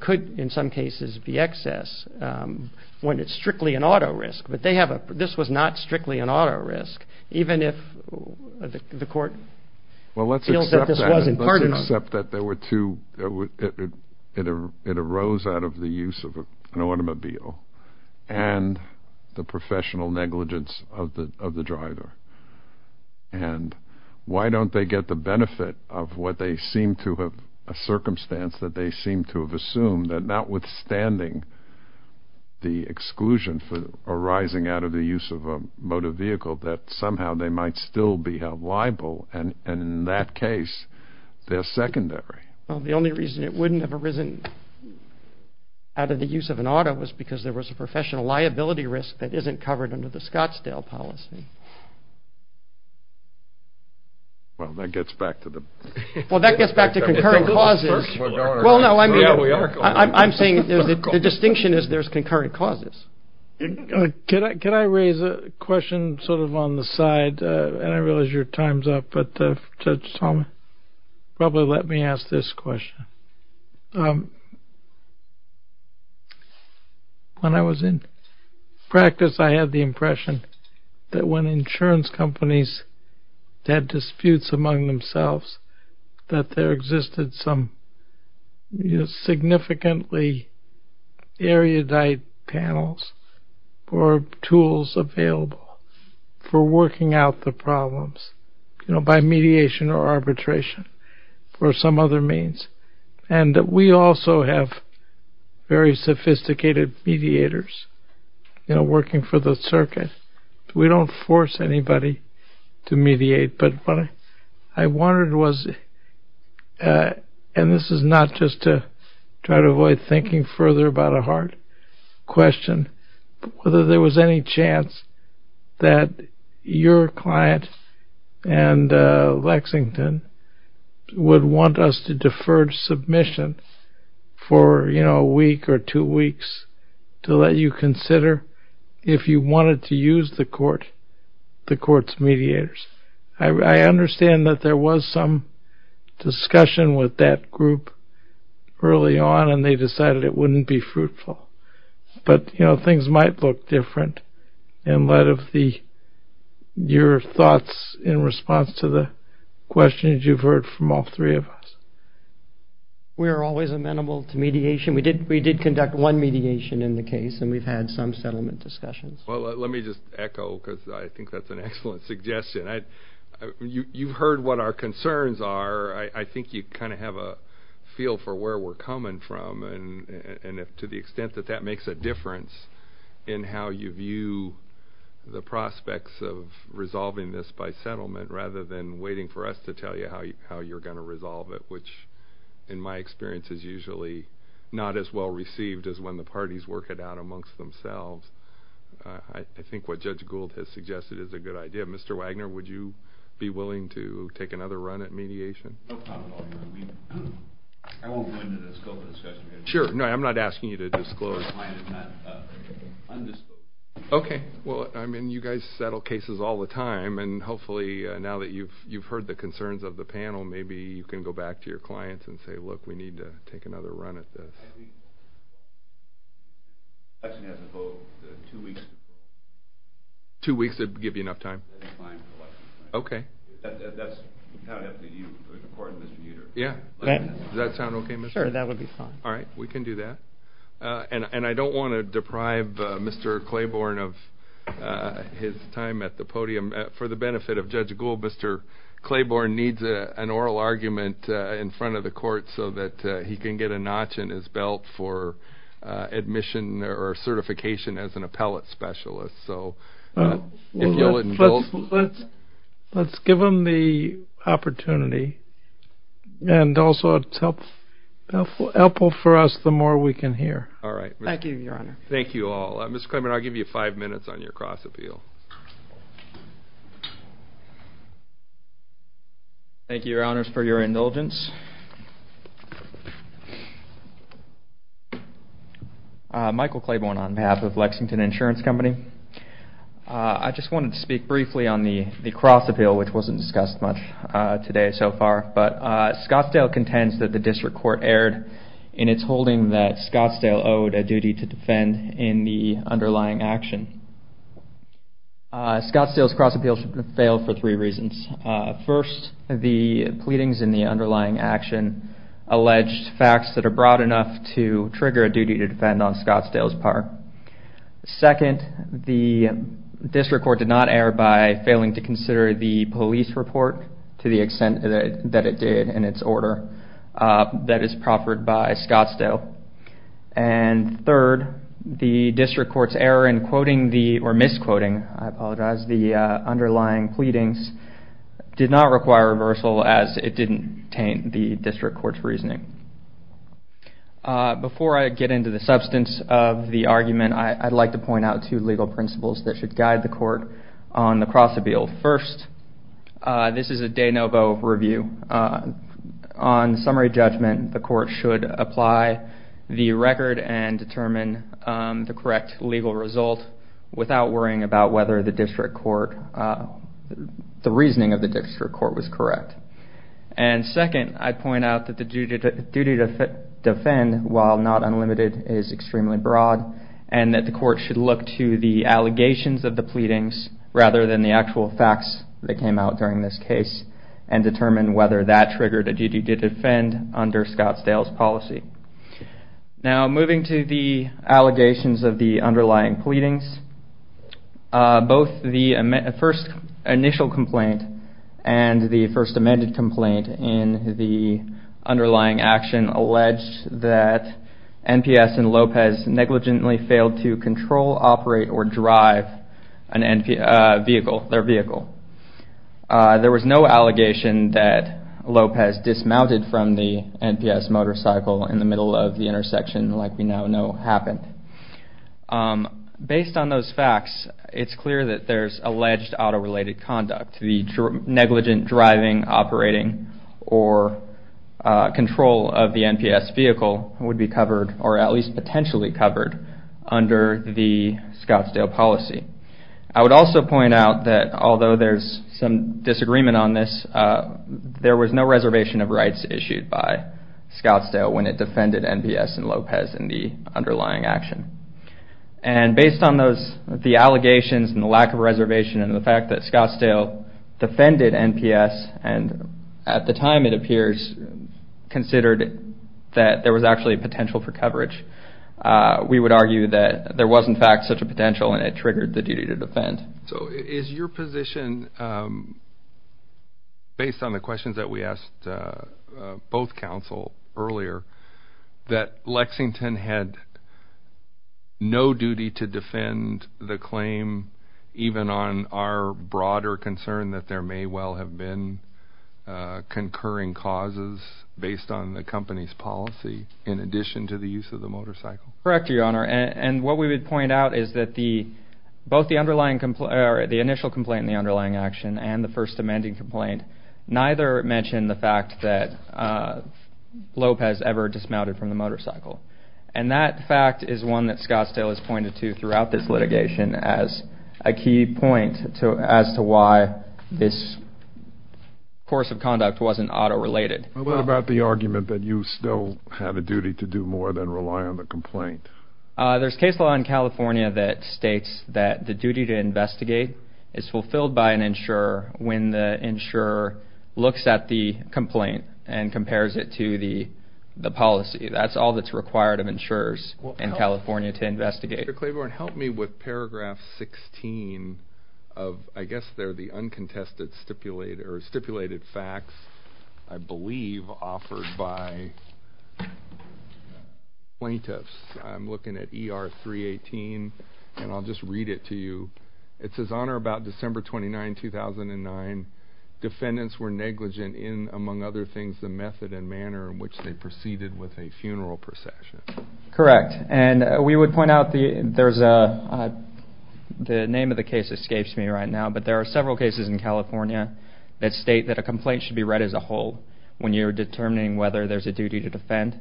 could, in some cases, be excess when it's strictly an auto risk. But this was not strictly an auto risk, even if the court feels that this was. Well, let's accept that it arose out of the use of an automobile and the professional negligence of the driver. And why don't they get the benefit of what they seem to have, a circumstance that they seem to have assumed, that notwithstanding the exclusion arising out of the use of a motor vehicle, that somehow they might still be held liable. And in that case, they're secondary. Well, the only reason it wouldn't have arisen out of the use of an auto was because there was a professional liability risk that isn't covered under the Scottsdale policy. Well, that gets back to the... Well, that gets back to concurrent clauses. Well, no, I mean, I'm saying the distinction is there's concurrent clauses. Can I raise a question sort of on the side? And I realize your time's up, but probably let me ask this question. When I was in practice, I had the impression that when insurance companies had disputes among themselves, that there existed some significantly erudite panels or tools available for working out the problems by mediation or arbitration or some other means. And we also have very sophisticated mediators working for the circuit. But what I wondered was, and this is not just to try to avoid thinking further about a hard question, whether there was any chance that your client and Lexington would want us to defer submission for a week or two weeks to let you consider if you wanted to use the court, the court's mediators. I understand that there was some discussion with that group early on, and they decided it wouldn't be fruitful. But, you know, things might look different in light of your thoughts in response to the questions you've heard from all three of us. We are always amenable to mediation. We did conduct one mediation in the case, and we've had some settlement discussions. Well, let me just echo, because I think that's an excellent suggestion. You've heard what our concerns are. I think you kind of have a feel for where we're coming from, and to the extent that that makes a difference in how you view the prospects of resolving this by settlement rather than waiting for us to tell you how you're going to resolve it, which, in my experience, is usually not as well-received as when the parties work it out amongst themselves. I think what Judge Gould has suggested is a good idea. Mr. Wagner, would you be willing to take another run at mediation? No problem. I won't go into the scope of the discussion here. Sure. No, I'm not asking you to disclose. My client is not undisclosed. Okay. Well, I mean, you guys settle cases all the time, and hopefully now that you've heard the concerns of the panel, maybe you can go back to your clients and say, look, we need to take another run at this. I think the election has to vote two weeks before. Two weeks would give you enough time? That's fine for the election. Okay. That's how it has to be, according to Mr. Utero. Yeah. Does that sound okay, Mr. Utero? Sure, that would be fine. All right. We can do that. And I don't want to deprive Mr. Claiborne of his time at the podium. For the benefit of Judge Gould, Mr. Claiborne needs an oral argument in front of the court so that he can get a notch in his belt for admission or certification as an appellate specialist. So if you'll indulge. Let's give him the opportunity, and also it's helpful for us the more we can hear. All right. Thank you, Your Honor. Thank you all. Mr. Claiborne, I'll give you five minutes on your cross appeal. Thank you, Your Honors, for your indulgence. Michael Claiborne on behalf of Lexington Insurance Company. I just wanted to speak briefly on the cross appeal, which wasn't discussed much today so far. But Scottsdale contends that the district court erred in its holding that Scottsdale owed a duty to defend in the underlying action. Scottsdale's cross appeal failed for three reasons. First, the pleadings in the underlying action alleged facts that are broad enough to trigger a duty to defend on Scottsdale's part. Second, the district court did not err by failing to consider the police report to the extent that it did in its order. That is proffered by Scottsdale. And third, the district court's error in quoting or misquoting, I apologize, the underlying pleadings, did not require reversal as it didn't taint the district court's reasoning. Before I get into the substance of the argument, I'd like to point out two legal principles that should guide the court on the cross appeal. First, this is a de novo review. On summary judgment, the court should apply the record and determine the correct legal result without worrying about whether the reasoning of the district court was correct. And second, I point out that the duty to defend while not unlimited is extremely broad and that the court should look to the allegations of the pleadings rather than the actual facts that came out during this case and determine whether that triggered a duty to defend under Scottsdale's policy. Now, moving to the allegations of the underlying pleadings, both the first initial complaint and the first amended complaint in the underlying action alleged that NPS and Lopez negligently failed to control, operate, or drive their vehicle. There was no allegation that Lopez dismounted from the NPS motorcycle in the middle of the intersection like we now know happened. Based on those facts, it's clear that there's alleged auto-related conduct. The negligent driving, operating, or control of the NPS vehicle would be covered or at least potentially covered under the Scottsdale policy. I would also point out that although there's some disagreement on this, there was no reservation of rights issued by Scottsdale when it defended NPS and Lopez in the underlying action. Based on the allegations and the lack of reservation and the fact that Scottsdale defended NPS and at the time it appears considered that there was actually potential for coverage, we would argue that there was in fact such a potential and it triggered the duty to defend. So is your position, based on the questions that we asked both counsel earlier, that Lexington had no duty to defend the claim even on our broader concern that there may well have been concurring causes based on the company's policy in addition to the use of the motorcycle? Correct, Your Honor. And what we would point out is that both the initial complaint and the underlying action and the first amending complaint neither mention the fact that Lopez ever dismounted from the motorcycle. And that fact is one that Scottsdale has pointed to throughout this litigation as a key point as to why this course of conduct wasn't auto-related. What about the argument that you still have a duty to do more than rely on the complaint? There's case law in California that states that the duty to investigate is fulfilled by an insurer when the insurer looks at the complaint and compares it to the policy. That's all that's required of insurers in California to investigate. Mr. Claiborne, help me with paragraph 16 of I guess they're the uncontested stipulated facts. I believe offered by plaintiffs. I'm looking at ER 318, and I'll just read it to you. It says, Honor, about December 29, 2009, defendants were negligent in, among other things, the method and manner in which they proceeded with a funeral procession. Correct. And we would point out the name of the case escapes me right now, but there are several cases in California that state that a complaint should be read as a whole when you're determining whether there's a duty to defend.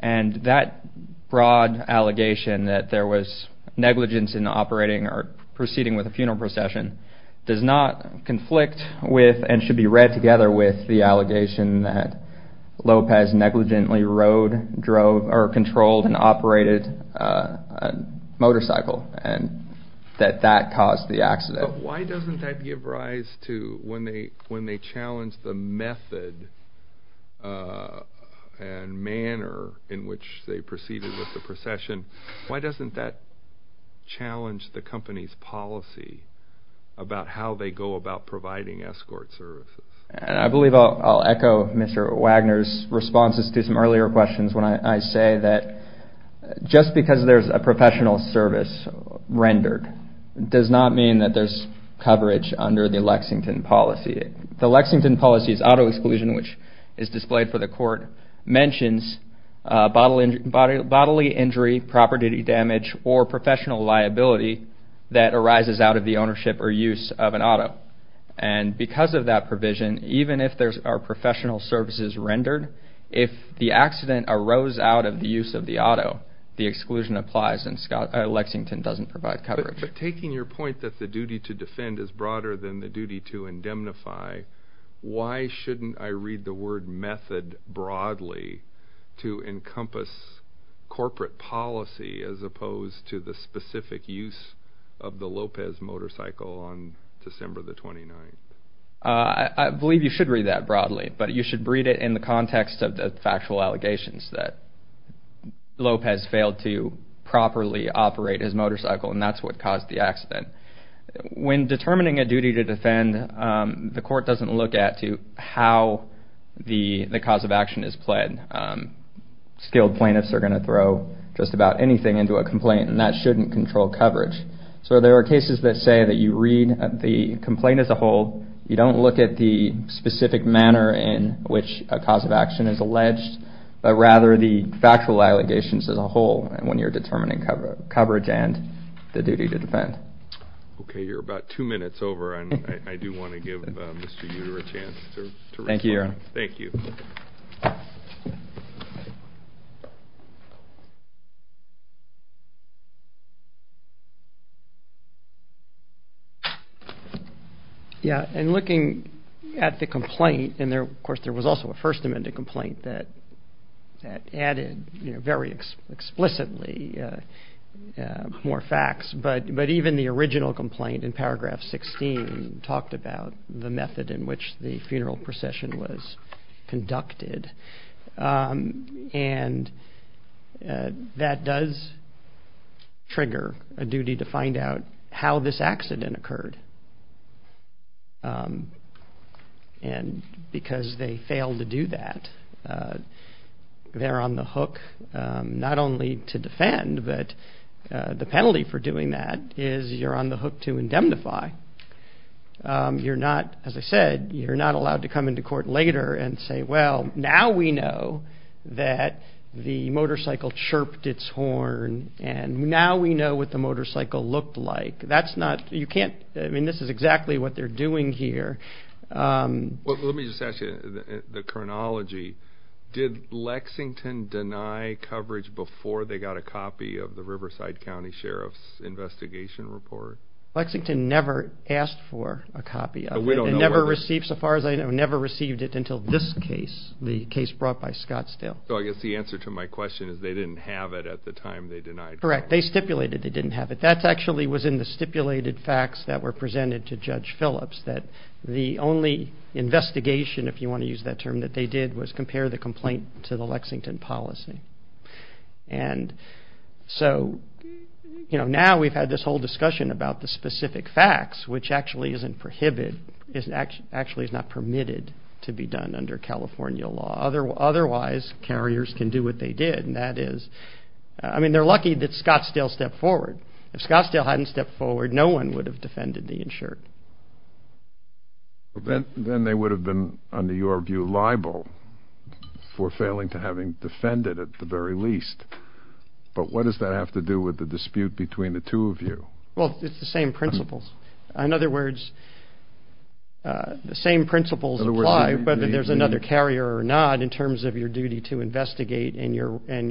And that broad allegation that there was negligence in operating or proceeding with a funeral procession does not conflict with and should be read together with the allegation that Lopez negligently rode, drove, or controlled and operated a motorcycle and that that caused the accident. But why doesn't that give rise to when they challenge the method and manner in which they proceeded with the procession, why doesn't that challenge the company's policy about how they go about providing escort services? I believe I'll echo Mr. Wagner's responses to some earlier questions when I say that just because there's a professional service rendered does not mean that there's coverage under the Lexington policy. The Lexington policy's auto exclusion, which is displayed for the court, mentions bodily injury, property damage, or professional liability that arises out of the ownership or use of an auto. And because of that provision, even if there are professional services rendered, if the accident arose out of the use of the auto, the exclusion applies and Lexington doesn't provide coverage. But taking your point that the duty to defend is broader than the duty to indemnify, why shouldn't I read the word method broadly to encompass corporate policy as opposed to the specific use of the Lopez motorcycle on December the 29th? I believe you should read that broadly, but you should read it in the context of the factual allegations that Lopez failed to properly operate his motorcycle and that's what caused the accident. When determining a duty to defend, the court doesn't look at how the cause of action is pled. Skilled plaintiffs are going to throw just about anything into a complaint and that shouldn't control coverage. So there are cases that say that you read the complaint as a whole, you don't look at the specific manner in which a cause of action is alleged, but rather the factual allegations as a whole when you're determining coverage and the duty to defend. Okay, you're about two minutes over and I do want to give Mr. Utero a chance to respond. Thank you, Aaron. Thank you. Yeah, in looking at the complaint, and of course there was also a First Amendment complaint that added very explicitly more facts, but even the original complaint in paragraph 16 talked about the method in which the funeral procession was conducted and that does trigger a duty to find out how this accident occurred. And because they failed to do that, they're on the hook not only to defend, but the penalty for doing that is you're on the hook to indemnify. You're not, as I said, you're not allowed to come into court later and say, well, now we know that the motorcycle chirped its horn and now we know what the motorcycle looked like. That's not, you can't, I mean this is exactly what they're doing here. Let me just ask you, the chronology, did Lexington deny coverage before they got a copy of the Riverside County Sheriff's investigation report? Lexington never asked for a copy of it. It never received, so far as I know, never received it until this case, the case brought by Scottsdale. So I guess the answer to my question is they didn't have it at the time they denied. Correct. They stipulated they didn't have it. That actually was in the stipulated facts that were presented to Judge Phillips that the only investigation, if you want to use that term, that they did was compare the complaint to the Lexington policy. And so, you know, now we've had this whole discussion about the specific facts, which actually isn't prohibited, actually is not permitted to be done under California law. Otherwise, carriers can do what they did, and that is, I mean they're lucky that Scottsdale stepped forward. If Scottsdale hadn't stepped forward, no one would have defended the insured. Then they would have been, under your view, liable for failing to having defended, at the very least. But what does that have to do with the dispute between the two of you? Well, it's the same principles. In other words, the same principles apply, whether there's another carrier or not, in terms of your duty to investigate and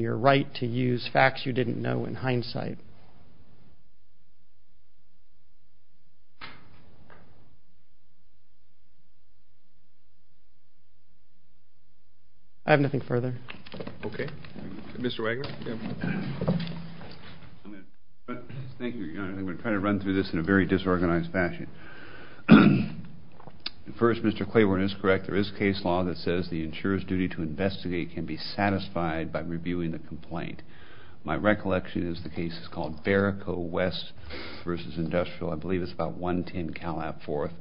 your right to use facts you didn't know in hindsight. Thank you. I have nothing further. Okay. Mr. Wagner. Thank you, Your Honor. I'm going to try to run through this in a very disorganized fashion. First, Mr. Claiborne is correct. There is case law that says the insurer's duty to investigate can be satisfied by reviewing the complaint. My recollection is the case is called Barrico West v. Industrial. I believe it's about 110 Calab Fourth.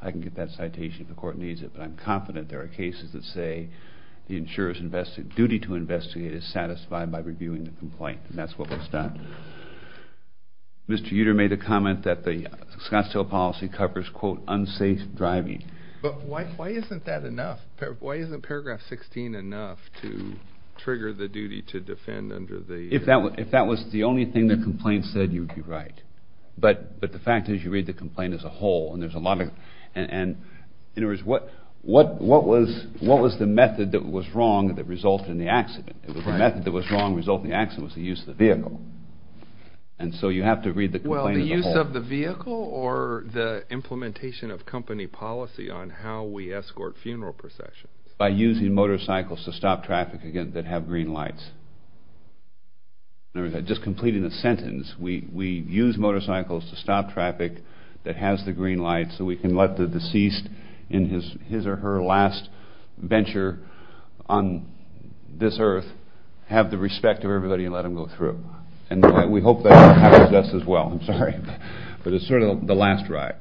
I can get that citation if the court needs it, but I'm confident there are cases that say the insurer's duty to investigate is satisfied by reviewing the complaint, and that's what was done. Mr. Uter made a comment that the Scottsdale policy covers, quote, unsafe driving. But why isn't that enough? Why isn't paragraph 16 enough to trigger the duty to defend under the? If that was the only thing the complaint said, you'd be right. But the fact is you read the complaint as a whole, and there's a lot of it. In other words, what was the method that was wrong that resulted in the accident? The method that was wrong that resulted in the accident was the use of the vehicle. And so you have to read the complaint as a whole. Well, the use of the vehicle or the implementation of company policy on how we escort funeral processions? By using motorcycles to stop traffic that have green lights. Just completing the sentence, we use motorcycles to stop traffic that has the green lights so we can let the deceased in his or her last venture on this earth have the respect of everybody and let them go through. And we hope that happens to us as well. I'm sorry, but it's sort of the last ride.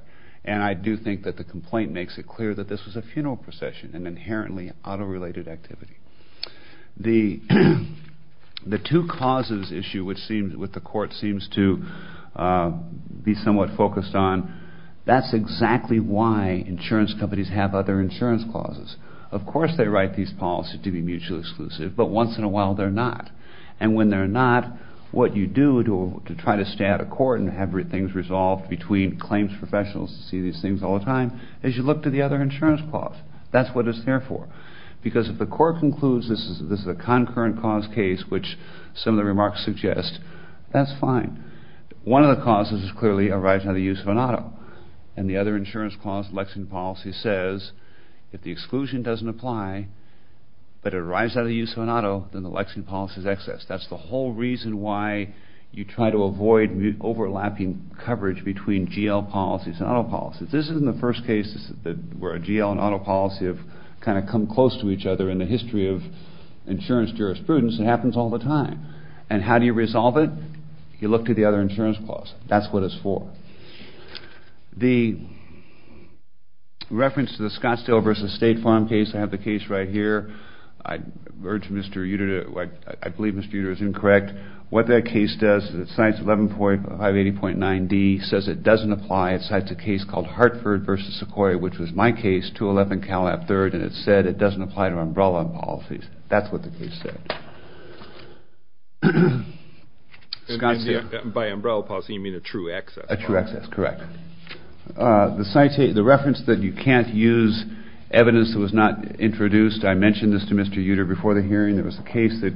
And I do think that the complaint makes it clear that this was a funeral procession, an inherently auto-related activity. The two causes issue with the court seems to be somewhat focused on that's exactly why insurance companies have other insurance clauses. Of course they write these policies to be mutually exclusive, but once in a while they're not. And when they're not, what you do to try to stay out of court and have things resolved between claims professionals who see these things all the time is you look to the other insurance clause. That's what it's there for. Because if the court concludes this is a concurrent cause case, which some of the remarks suggest, that's fine. One of the causes is clearly a right to the use of an auto. And the other insurance clause in the Lexington policy says if the exclusion doesn't apply, but it arrives out of the use of an auto, then the Lexington policy is excess. That's the whole reason why you try to avoid overlapping coverage between GL policies and auto policies. This isn't the first case where a GL and auto policy have kind of come close to each other in the history of insurance jurisprudence. It happens all the time. And how do you resolve it? You look to the other insurance clause. That's what it's for. The reference to the Scottsdale v. State Farm case, I have the case right here. I believe Mr. Uter is incorrect. What that case does is it cites 11.580.9D, says it doesn't apply. It cites a case called Hartford v. Sequoia, which was my case, 211 Calab III, and it said it doesn't apply to umbrella policies. That's what the case said. By umbrella policy, you mean a true excess clause. A true excess, correct. The reference that you can't use evidence that was not introduced, I mentioned this to Mr. Uter before the hearing. There was a case that,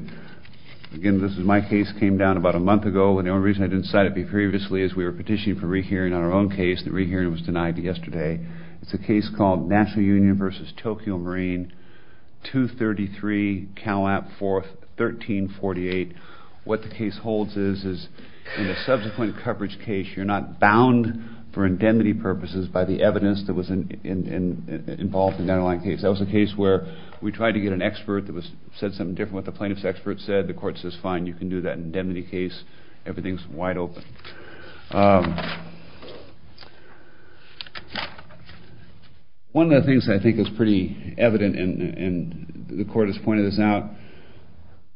again, this was my case, came down about a month ago, and the only reason I didn't cite it previously is we were petitioning for rehearing on our own case, and the rehearing was denied yesterday. It's a case called National Union v. Tokyo Marine, 233 Calab IV, 1348. What the case holds is in the subsequent coverage case, you're not bound for indemnity purposes by the evidence that was involved in the underlying case. That was a case where we tried to get an expert that said something different than what the plaintiff's expert said. The court says, fine, you can do that indemnity case. Everything's wide open. One of the things I think is pretty evident, and the court has pointed this out,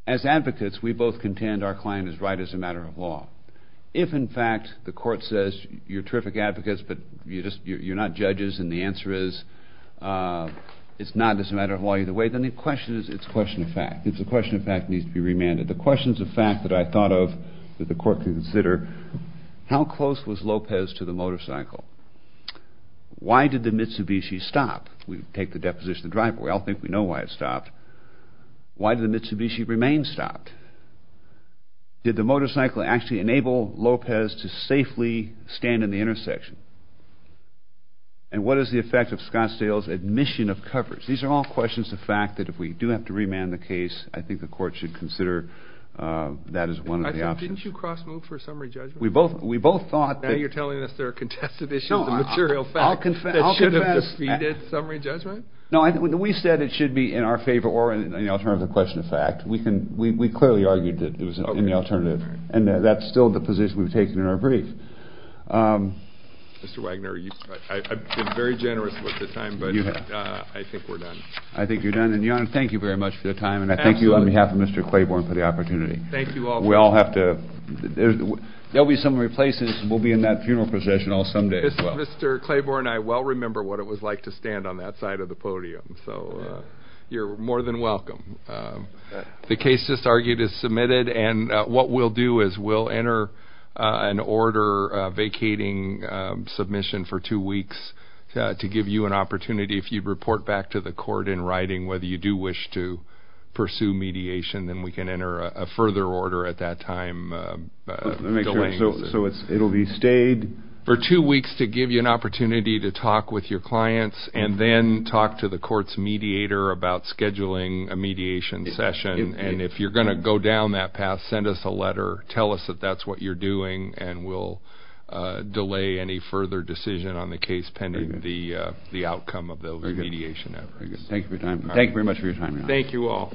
as advocates, we both contend our client is right as a matter of law. If, in fact, the court says you're terrific advocates, but you're not judges, and the answer is it's not as a matter of law either way, then the question is it's a question of fact. It's a question of fact that needs to be remanded. The questions of fact that I thought of that the court could consider, how close was Lopez to the motorcycle? Why did the Mitsubishi stop? We take the deposition of the driver. We all think we know why it stopped. Why did the Mitsubishi remain stopped? Did the motorcycle actually enable Lopez to safely stand in the intersection? And what is the effect of Scottsdale's admission of coverage? These are all questions of fact that if we do have to remand the case, I think the court should consider that as one of the options. Didn't you cross-move for a summary judgment? We both thought that— Now you're telling us there are contested issues of material fact that should have defeated summary judgment? No, we said it should be in our favor or in the alternative question of fact. We clearly argued that it was in the alternative, and that's still the position we've taken in our brief. Mr. Wagner, I've been very generous with the time, but I think we're done. I think you're done. Your Honor, thank you very much for your time, and I thank you on behalf of Mr. Claiborne for the opportunity. Thank you all. We all have to—there will be some replacements. We'll be in that funeral procession some day as well. Mr. Claiborne, I well remember what it was like to stand on that side of the podium, so you're more than welcome. The case just argued is submitted, and what we'll do is we'll enter an order vacating submission for two weeks to give you an opportunity if you report back to the court in writing whether you do wish to pursue mediation, then we can enter a further order at that time. So it'll be stayed? For two weeks to give you an opportunity to talk with your clients and then talk to the court's mediator about scheduling a mediation session, and if you're going to go down that path, send us a letter, tell us that that's what you're doing, and we'll delay any further decision on the case pending the outcome of the mediation efforts. Thank you very much for your time. Thank you all.